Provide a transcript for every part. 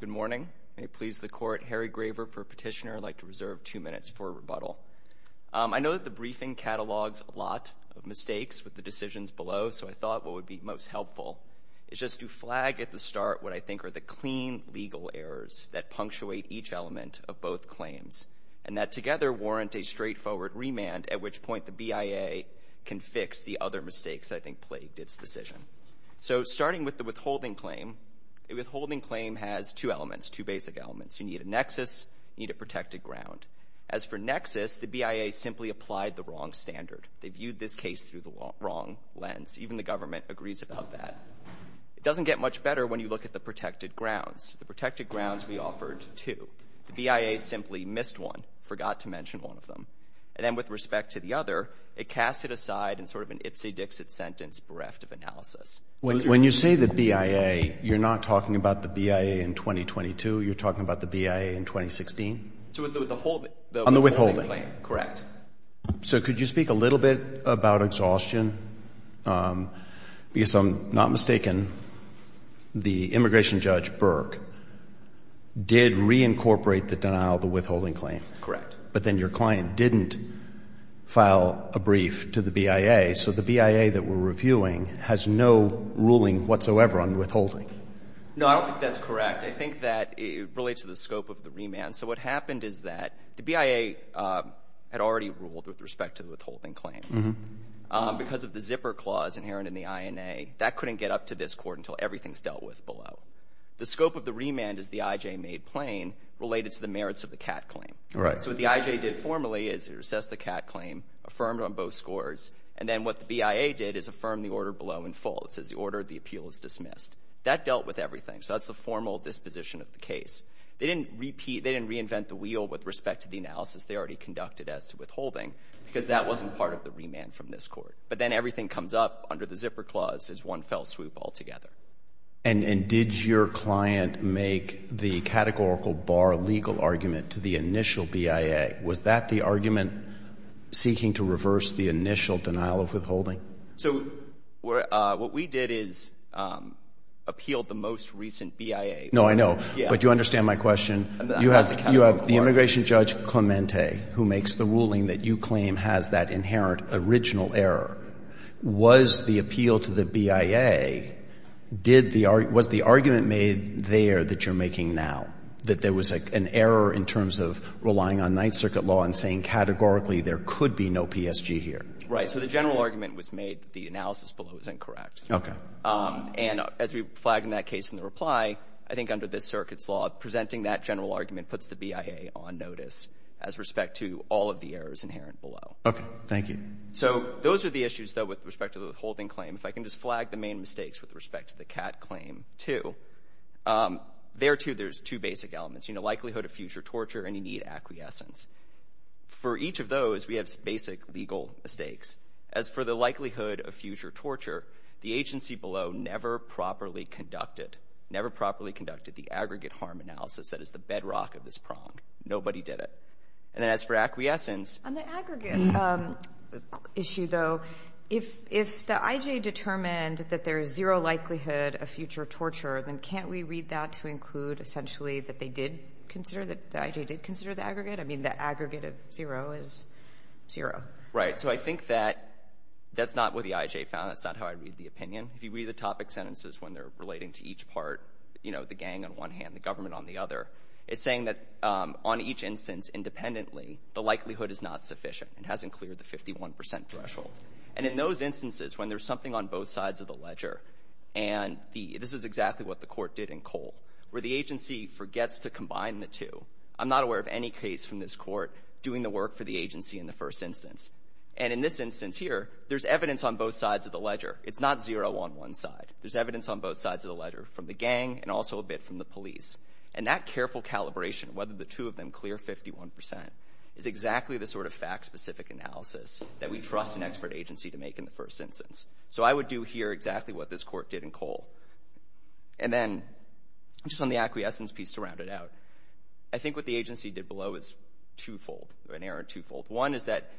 Good morning. May it please the Court, Harry Graver for Petitioner. I'd like to reserve two minutes for rebuttal. I know that the briefing catalogs a lot of mistakes with the decisions below, so I thought what would be most helpful is just to flag at the start what I think are the clean legal errors that punctuate each element of both claims and that together warrant a straightforward remand at which point the BIA can fix the other mistakes I think plagued its decision. So starting with the withholding claim, a withholding claim has two elements, two basic elements. You need a nexus, you need a protected ground. As for nexus, the BIA simply applied the wrong standard. They viewed this case through the wrong lens. Even the government agrees about that. It doesn't get much better when you look at the protected grounds. The protected grounds we offered two. The BIA simply missed one, forgot to mention one of them. And then with respect to the other, it cast it aside in sort of an ipsy-dixit sentence bereft of analysis. When you say the BIA, you're not talking about the BIA in 2022, you're talking about the BIA in 2016? On the withholding claim, correct. So could you speak a little bit about exhaustion? Because if I'm not mistaken, the immigration judge, Burke, did reincorporate the denial of the withholding claim. Correct. But then your client didn't file a brief to the BIA, so the BIA that we're reviewing has no ruling whatsoever on withholding. No, I don't think that's correct. I think that it relates to the scope of the remand. So what happened is that the BIA had already ruled with respect to the withholding claim. Because of the zipper clause inherent in the INA, that couldn't get up to this Court until everything's dealt with below. The scope of the remand is the IJ made plain, related to the merits of the CAT claim. All right. So what the IJ did formally is it assessed the CAT claim, affirmed on both scores, and then what the BIA did is affirm the order below in full. It says the order of the appeal is dismissed. That dealt with everything. So that's the formal disposition of the case. They didn't repeat, they didn't reinvent the wheel with respect to the analysis they already conducted as to withholding, because that wasn't part of the remand from this Court. But then everything comes up under the zipper clause as one fell swoop altogether. And did your client make the categorical bar legal argument to the initial BIA? Was that the argument seeking to reverse the initial denial of withholding? So what we did is appealed the most recent BIA. No, I know. But you understand my question. You have the immigration judge, Clemente, who makes the ruling that you claim has that inherent original error. Was the appeal to the BIA, did the — was the argument made there that you're making now, that there was an error in terms of relying on Ninth Circuit law and saying categorically there could be no PSG here? Right. So the general argument was made that the analysis below is incorrect. Okay. And as we flagged in that case in the reply, I think under this Circuit's law, presenting that general argument puts the BIA on notice as respect to all of the errors inherent below. Okay. Thank you. So those are the issues, though, with respect to the withholding claim. If I can just flag the main mistakes with respect to the CAT claim, too, there, too, there's two basic elements. You know, likelihood of future torture, and you need acquiescence. For each of those, we have basic legal mistakes. As for the likelihood of future torture, the agency below never properly conducted — never properly conducted the aggregate harm analysis that is the bedrock of this problem. Nobody did it. And then as for acquiescence — On the aggregate issue, though, if the I.J. determined that there is zero likelihood of future torture, then can't we read that to include essentially that they did consider that — the I.J. did consider the aggregate? I mean, the aggregate of zero is zero. Right. So I think that that's not what the I.J. found. That's not how I'd read the opinion. If you read the topic sentences when they're relating to each part, you know, the gang on one hand, the government on the other, it's saying that on each instance, independently, the likelihood is not sufficient. It hasn't cleared the 51% threshold. And in those instances when there's something on both sides of the ledger — and this is exactly what the court did in Cole, where the agency forgets to combine the two. I'm not aware of any case from this court doing the work for the agency in the first instance. And in this instance here, there's evidence on both sides of the ledger. It's not zero on one side. There's evidence on both sides of the ledger from the gang and also a bit from the police. And that careful calibration, whether the two of them clear 51%, is exactly the sort of fact-specific analysis that we trust an expert agency to make in the first instance. So I would do here exactly what this court did in Cole. And then just on the acquiescence piece to round it out, I think what the agency did below is twofold, an error twofold. One is that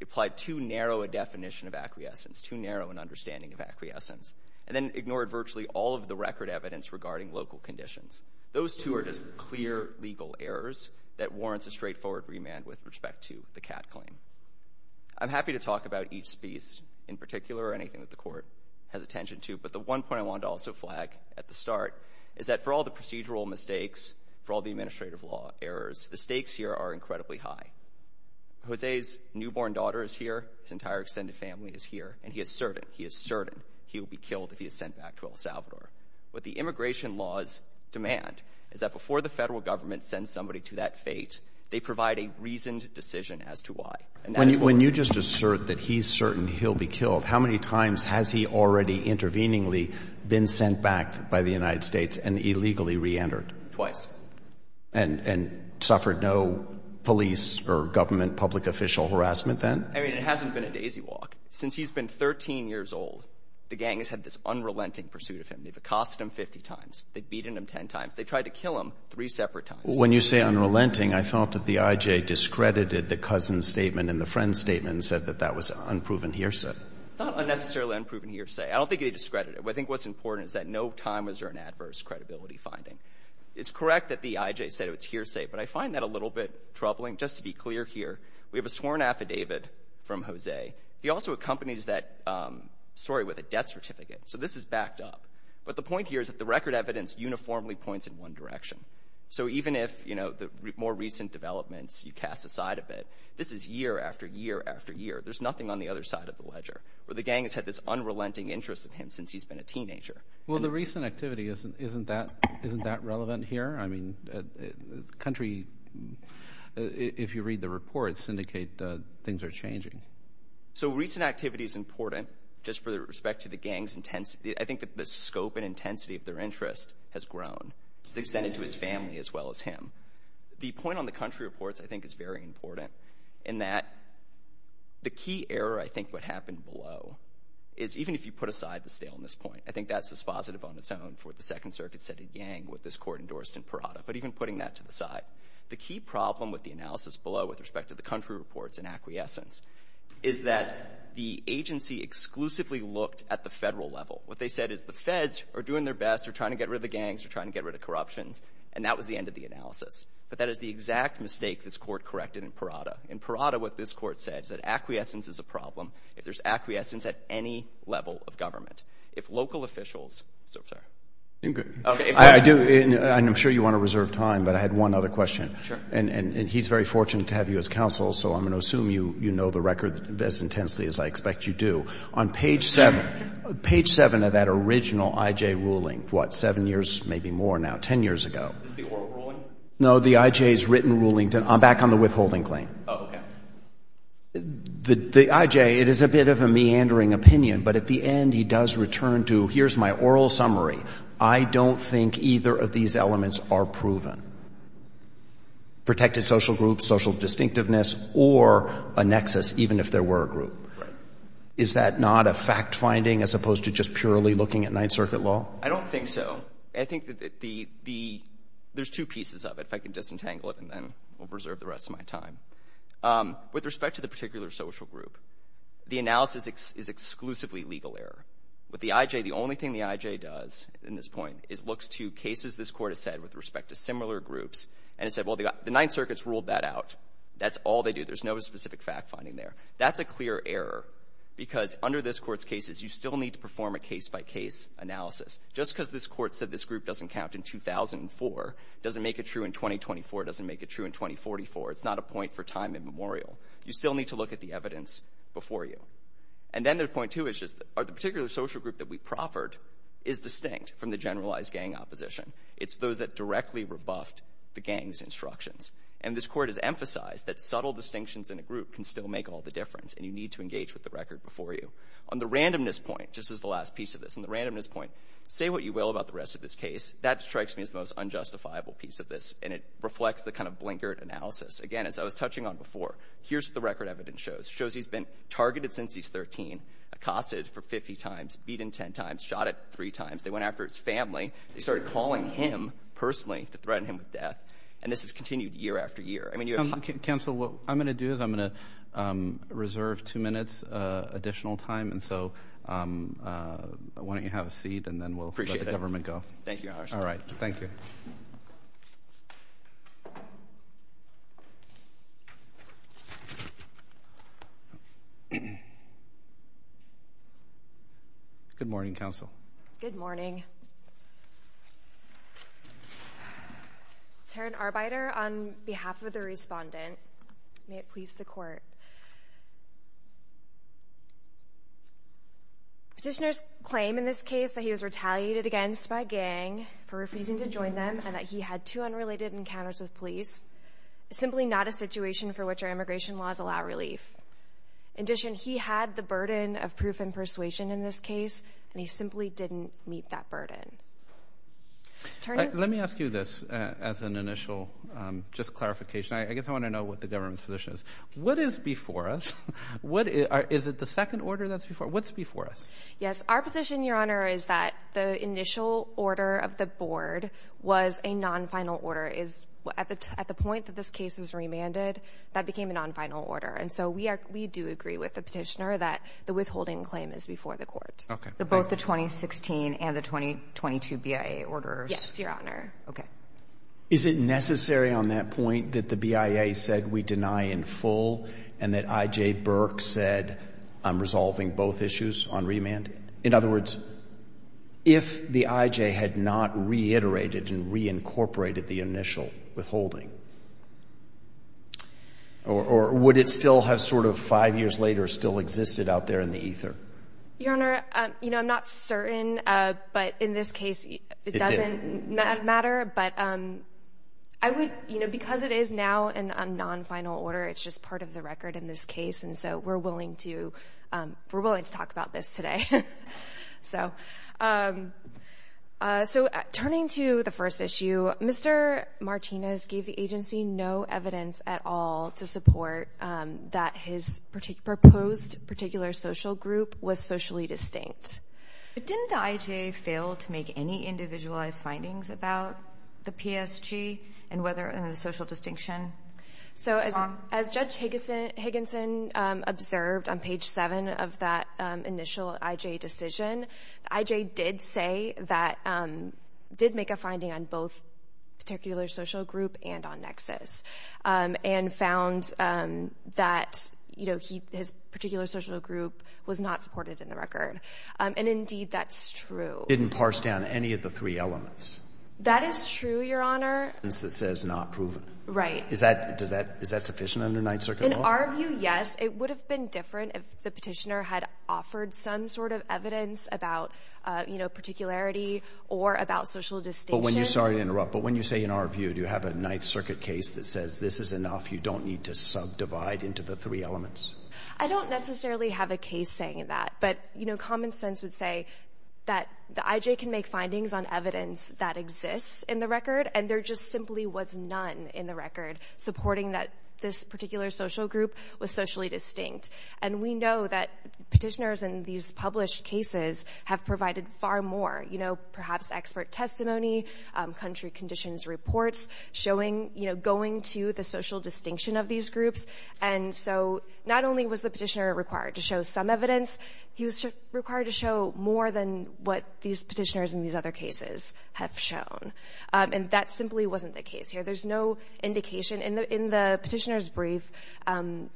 it applied too narrow a definition of acquiescence, too narrow an understanding of acquiescence, and then ignored virtually all of the record evidence regarding local conditions. Those two are just clear legal errors that warrants a straightforward remand with respect to the CAT claim. I'm happy to talk about each piece in particular or anything that the court has attention to, but the one point I wanted to also flag at the start is that for all the procedural mistakes, for all the administrative law errors, the stakes here are incredibly high. Jose's newborn daughter is here, his entire extended family is here, and he is certain — he is certain — he will be killed if he is sent back to El Salvador. What the immigration laws demand is that before the federal government sends somebody to that fate, they provide a reasoned decision as to why. And that is what we're — When you just assert that he's certain he'll be killed, how many times has he already interveningly been sent back by the United States and illegally reentered? Twice. And suffered no police or government public official harassment then? I mean, it hasn't been a daisy walk. Since he's been 13 years old, the gang has had this unrelenting pursuit of him. They've accosted him 50 times. They've beaten him 10 times. They tried to kill him three separate times. When you say unrelenting, I felt that the I.J. discredited the cousin's statement and the friend's statement and said that that was an unproven hearsay. It's not a necessarily unproven hearsay. I don't think he discredited it. I think what's important is that no time was earned adverse credibility finding. It's correct that the I.J. said it was hearsay, but I find that a little bit troubling. Just to be clear here, we have a sworn affidavit from Jose. He also accompanies that story with a death certificate. So this is backed up. But the point here is that the record evidence uniformly points in one direction. So even if the more recent developments, you cast aside a bit, this is year after year after year. There's nothing on the other side of the ledger where the gang has had this unrelenting interest in him since he's been a teenager. Well, the recent activity, isn't that relevant here? I mean, country, if you read the reports, indicate things are changing. So recent activity is important just for the respect to the gang's intensity. I think that the scope and intensity of their interest has grown. It's extended to his family as well as him. The point on the country reports I think is very important in that the key error I think what happened below is even if you put aside the staleness point, I think that's as positive on its own for what the Second Circuit said to Yang with this court endorsed in Parada. But even putting that to the side, the key problem with the analysis below with respect to the country reports and acquiescence is that the agency exclusively looked at the federal level. What they said is the feds are doing their best. They're trying to get rid of the gangs. They're trying to get rid of corruptions. And that was the end of the analysis. But that is the exact mistake this court corrected in Parada. In Parada, what this court said is that acquiescence is a problem if there's acquiescence at any level of government. If local officials, I'm sorry. I do, and I'm sure you want to reserve time, but I had one other question, and he's very fortunate to have you as counsel, so I'm going to assume you know the record as intensely as I expect you do. On page 7, page 7 of that original I.J. ruling, what, 7 years, maybe more now, 10 years ago. Is this the oral ruling? No, the I.J.'s written ruling. I'm back on the withholding claim. Oh, okay. The I.J., it is a bit of a meandering opinion, but at the end he does return to here's my oral summary. I don't think either of these elements are proven. Protected social groups, social distinctiveness, or a nexus, even if there were a group. Is that not a fact-finding as opposed to just purely looking at Ninth Circuit law? I don't think so. I think that the, there's two pieces of it, if I can disentangle it and then we'll reserve the rest of my time. With respect to the particular social group, the analysis is exclusively legal error. With the I.J., the only thing the I.J. does in this point is looks to cases this Court has said with respect to similar groups and has said, well, the Ninth Circuit's ruled that out. That's all they do. There's no specific fact-finding there. That's a clear error because under this Court's cases, you still need to perform a case-by-case analysis. Just because this Court said this group doesn't count in 2004 doesn't make it true in 2024, doesn't make it true in 2044. It's not a point for time immemorial. You still need to look at the evidence before you. And then there's point two, which is the particular social group that we proffered is distinct from the generalized gang opposition. It's those that directly rebuffed the gang's instructions. And this Court has emphasized that subtle distinctions in a group can still make all the difference and you need to engage with the record before you. On the randomness point, just as the last piece of this, on the randomness point, say what you will about the rest of this case, that strikes me as the most unjustifiable piece of this. And it reflects the kind of blinkered analysis. Again, as I was touching on before, here's what the record evidence shows. It shows he's been targeted since he's 13, accosted for 50 times, beaten 10 times, shot at three times. They went after his family. They started calling him personally to threaten him with death. And this has continued year after year. Counsel, what I'm going to do is I'm going to reserve two minutes additional time. And so why don't you have a seat and then we'll let the government go. Thank you, Your Honor. All right. Thank you. Good morning, counsel. Good morning. Taryn Arbeiter on behalf of the respondent may it please the court. Petitioners claim in this case that he was retaliated against by a gang for refusing to join them and that he had two unrelated encounters with police, simply not a situation for which our immigration laws allow relief. In addition, he had the burden of proof and persuasion in this case and he simply didn't meet that burden. Let me ask you this as an initial just clarification. I guess I want to know what the government's position is. What is before us? Is it the second order that's before us? What's before us? Yes. Our position, Your Honor, is that the initial order of the board was a non-final order. At the point that this case was remanded, that became a non-final order. And so we do agree with the Petitioner that the withholding claim is before the court. Okay. Both the 2016 and the 2022 BIA orders? Yes, Your Honor. Okay. Is it necessary on that point that the BIA said we deny in full and that I.J. Burke said I'm resolving both issues on remand? In other words, if the I.J. had not reiterated and reincorporated the initial withholding, or would it still have sort of five years later still existed out there in the ether? Your Honor, you know, I'm not certain, but in this case, it doesn't matter. But I would, you know, because it is now in a non-final order, it's just part of the record in this case. And so we're willing to, we're willing to talk about this today. So turning to the first issue, Mr. Martinez gave the agency no evidence at all to support that his proposed particular social group was socially distinct. But didn't the I.J. fail to make any individualized findings about the PSG and the social distinction? So as Judge Higginson observed on page seven of that initial I.J. decision, I.J. did say that, did make a finding on both particular social group and on nexus, and found that, you know, his particular social group was not supported in the record. And indeed, that's true. Didn't parse down any of the three elements. That is true, Your Honor. That says not proven. Is that, does that, is that sufficient under Ninth Circuit law? In our view, yes. It would have been different if the petitioner had offered some sort of evidence about, you know, particularity or about social distinction. But when you, sorry to interrupt, but when you say in our view, do you have a Ninth Circuit case that says this is enough, you don't need to subdivide into the three elements? I don't necessarily have a case saying that. But, you know, common sense would say that the I.J. can make findings on evidence that exists in the record, and there just simply was none in the record supporting that this particular social group was socially distinct. And we know that petitioners in these published cases have provided far more, you know, perhaps expert testimony, country conditions reports, showing, you know, going to the social distinction of these groups. And so, not only was the petitioner required to show some evidence, he was required to show more than what these petitioners in these other cases have shown. And that simply wasn't the case here. There's no indication. In the petitioner's brief, the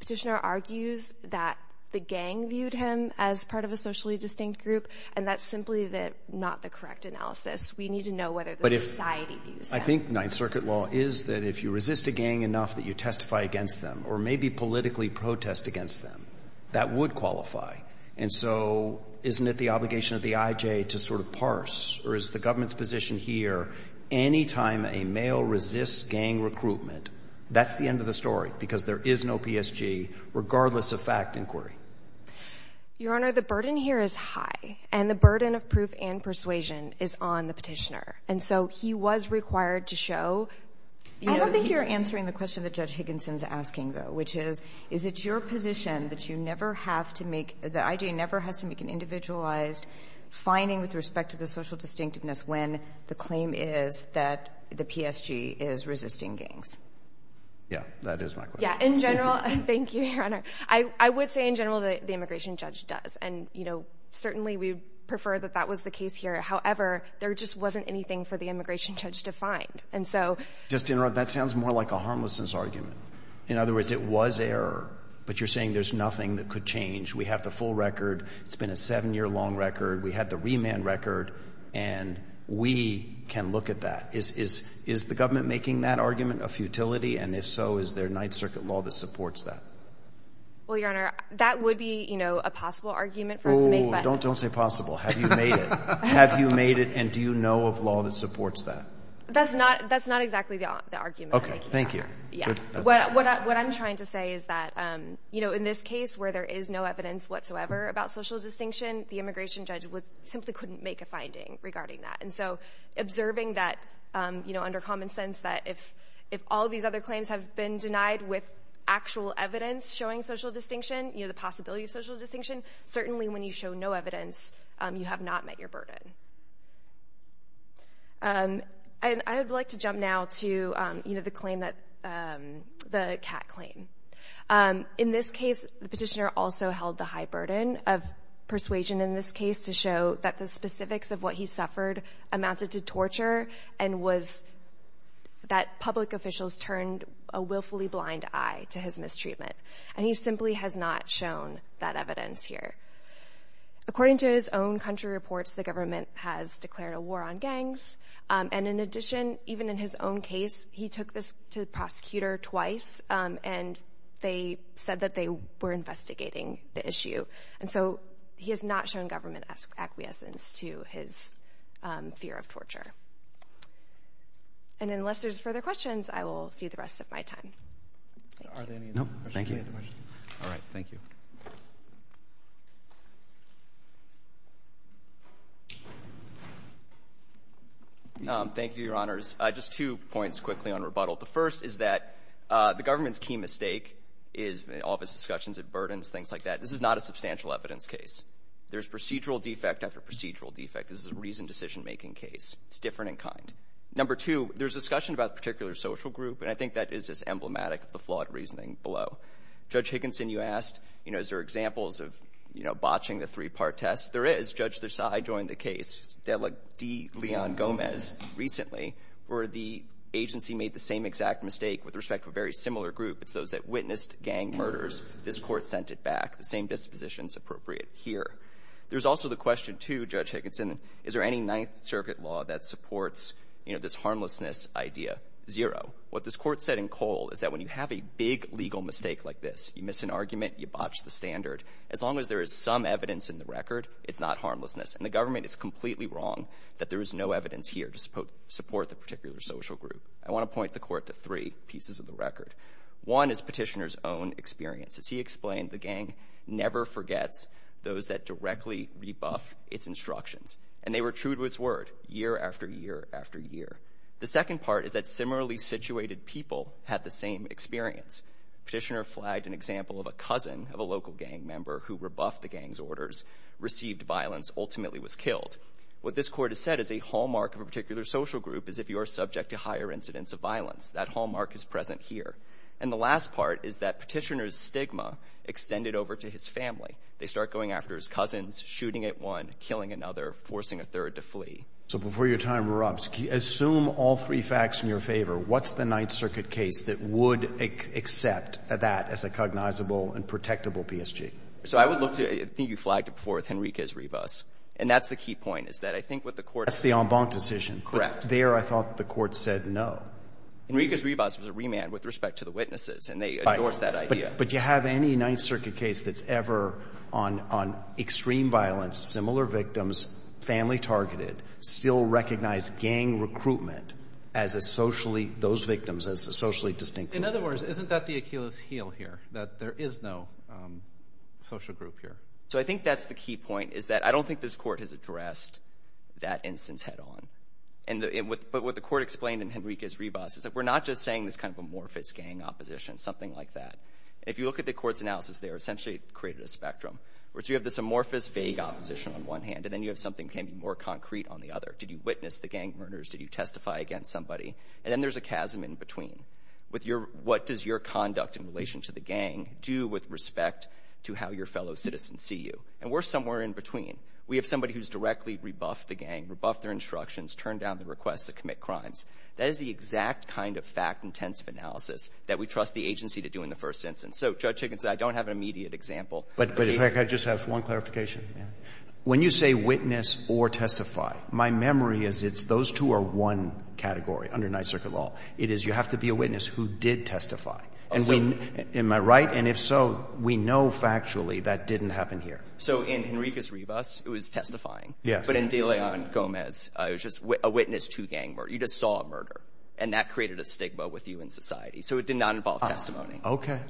petitioner argues that the gang viewed him as part of a socially distinct group, and that's simply not the correct analysis. We need to know whether the society views that. I think Ninth Circuit law is that if you resist a gang enough that you testify against them or maybe politically protest against them, that would qualify. And so, isn't it the obligation of the I.J. to sort of parse, or is the government's position here, any time a male resists gang recruitment, that's the end of the story, because there is no PSG, regardless of fact inquiry? Your Honor, the burden here is high, and the burden of proof and persuasion is on the petitioner. And so, he was required to show — I don't think you're answering the question that Judge Higginson's asking, though, which is, is it your position that you never have to make — that I.J. never has to make an individualized finding with respect to the social distinctiveness when the claim is that the PSG is resisting gangs? Yeah, that is my question. Yeah, in general — thank you, Your Honor. I would say in general that the immigration judge does, and, you know, certainly we prefer that that was the case here. However, there just wasn't anything for the immigration judge to find. And so — Just to interrupt, that sounds more like a harmlessness argument. In other words, it was error, but you're saying there's nothing that could change. We have the full record. It's been a seven-year-long record. We had the remand record, and we can look at that. Is the government making that argument a futility, and if so, is there Ninth Circuit law that supports that? Well, Your Honor, that would be, you know, a possible argument for us to make, but — Oh, don't say possible. Have you made it? Have you made it, and do you know of law that supports that? That's not — that's not exactly the argument I'm making. Okay, thank you. What I'm trying to say is that, you know, in this case, where there is no evidence whatsoever about social distinction, the immigration judge simply couldn't make a finding regarding that. And so, observing that, you know, under common sense, that if all these other claims have been denied with actual evidence showing social distinction, you know, the possibility of social distinction, certainly when you show no evidence, you have not met your burden. And I would like to jump now to, you know, the claim that — the Catt claim. In this case, the petitioner also held the high burden of persuasion in this case to show that the specifics of what he suffered amounted to torture and was — that public officials turned a willfully blind eye to his mistreatment, and he simply has not shown that evidence here. According to his own country reports, the government has declared a war on gangs. And in addition, even in his own case, he took this to the prosecutor twice, and they said that they were investigating the issue. And so, he has not shown government acquiescence to his fear of torture. And unless there's further questions, I will see the rest of my time. Thank you. Are there any other questions? No, thank you. All right, thank you. Thank you, Your Honors. Just two points quickly on rebuttal. The first is that the government's key mistake is — in all of its discussions, it burdens, things like that. This is not a substantial evidence case. There's procedural defect after procedural defect. This is a reasoned decision-making case. It's different in kind. Number two, there's discussion about a particular social group, and I think that is just emblematic of the flawed reasoning below. Judge Higginson, you asked, you know, is there examples of, you know, botching the three-part test? There is. Judge Desai joined the case. Delegate Leon Gomez recently, where the agency made the same exact mistake with respect to a very similar group. It's those that witnessed gang murders. This Court sent it back. The same disposition is appropriate here. There's also the question, too, Judge Higginson, is there any Ninth Circuit law that supports, you know, this harmlessness idea? Zero. What this Court said in Cole is that when you have a big legal mistake like this, you miss an argument, you botch the standard, as long as there is some evidence in the record, it's not harmlessness. And the government is completely wrong that there is no evidence here to support the particular social group. I want to point the Court to three pieces of the record. One is Petitioner's own experience. As he explained, the gang never forgets those that directly rebuff its instructions, and they were true to its word year after year after year. The second part is that similarly situated people had the same experience. Petitioner flagged an example of a cousin of a local gang member who rebuffed the gang's orders, received violence, ultimately was killed. What this Court has said is a hallmark of a particular social group is if you are subject to higher incidents of violence. That hallmark is present here. And the last part is that Petitioner's stigma extended over to his family. They start going after his cousins, shooting at one, killing another, forcing a third to So before your time rubs, assume all three facts in your favor. What's the Ninth Circuit case that would accept that as a cognizable and protectable PSG? So I would look to, I think you flagged it before, with Henriquez-Rivas. And that's the key point, is that I think what the Court That's the en banc decision. Correct. There I thought the Court said no. Henriquez-Rivas was a remand with respect to the witnesses, and they endorsed that idea. But you have any Ninth Circuit case that's ever on extreme violence, similar victims, family targeted, still recognize gang recruitment as a socially, those victims as a socially distinct group? In other words, isn't that the Achilles heel here, that there is no social group here? So I think that's the key point, is that I don't think this Court has addressed that instance head on. But what the Court explained in Henriquez-Rivas is that we're not just saying this kind of amorphous gang opposition, something like that. If you look at the Court's analysis there, essentially it created a spectrum. So you have this amorphous, vague opposition on one hand, and then you have something more concrete on the other. Did you witness the gang murders? Did you testify against somebody? And then there's a chasm in between. What does your conduct in relation to the gang do with respect to how your fellow citizens see you? And we're somewhere in between. We have somebody who's directly rebuffed the gang, rebuffed their instructions, turned down the request to commit crimes. That is the exact kind of fact-intensive analysis that we trust the agency to do in the first instance. So Judge Higgins, I don't have an immediate example. But if I could just ask one clarification. When you say witness or testify, my memory is it's those two are one category under Ninth Circuit law. It is you have to be a witness who did testify. Am I right? And if so, we know factually that didn't happen here. So in Henriquez-Rivas, it was testifying. Yes. But in De Leon Gomez, it was just a witness to a gang murder. You just saw a murder. And that created a stigma with you in society. So it did not involve testimony. Okay.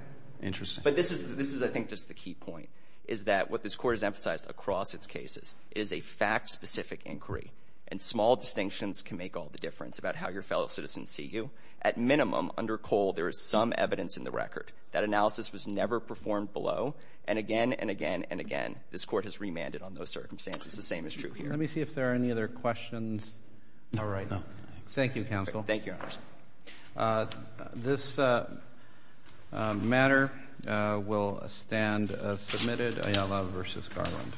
Interesting. But this is, I think, just the key point, is that what this Court has emphasized across its cases is a fact-specific inquiry. And small distinctions can make all the difference about how your fellow citizens see you. At minimum, under Cole, there is some evidence in the record. That analysis was never performed below. And again and again and again, this Court has remanded on those circumstances. The same is true here. Let me see if there are any other questions. All right. Thank you, Counsel. Thank you, Your Honor. This matter will stand as submitted. Ayala v. Garland.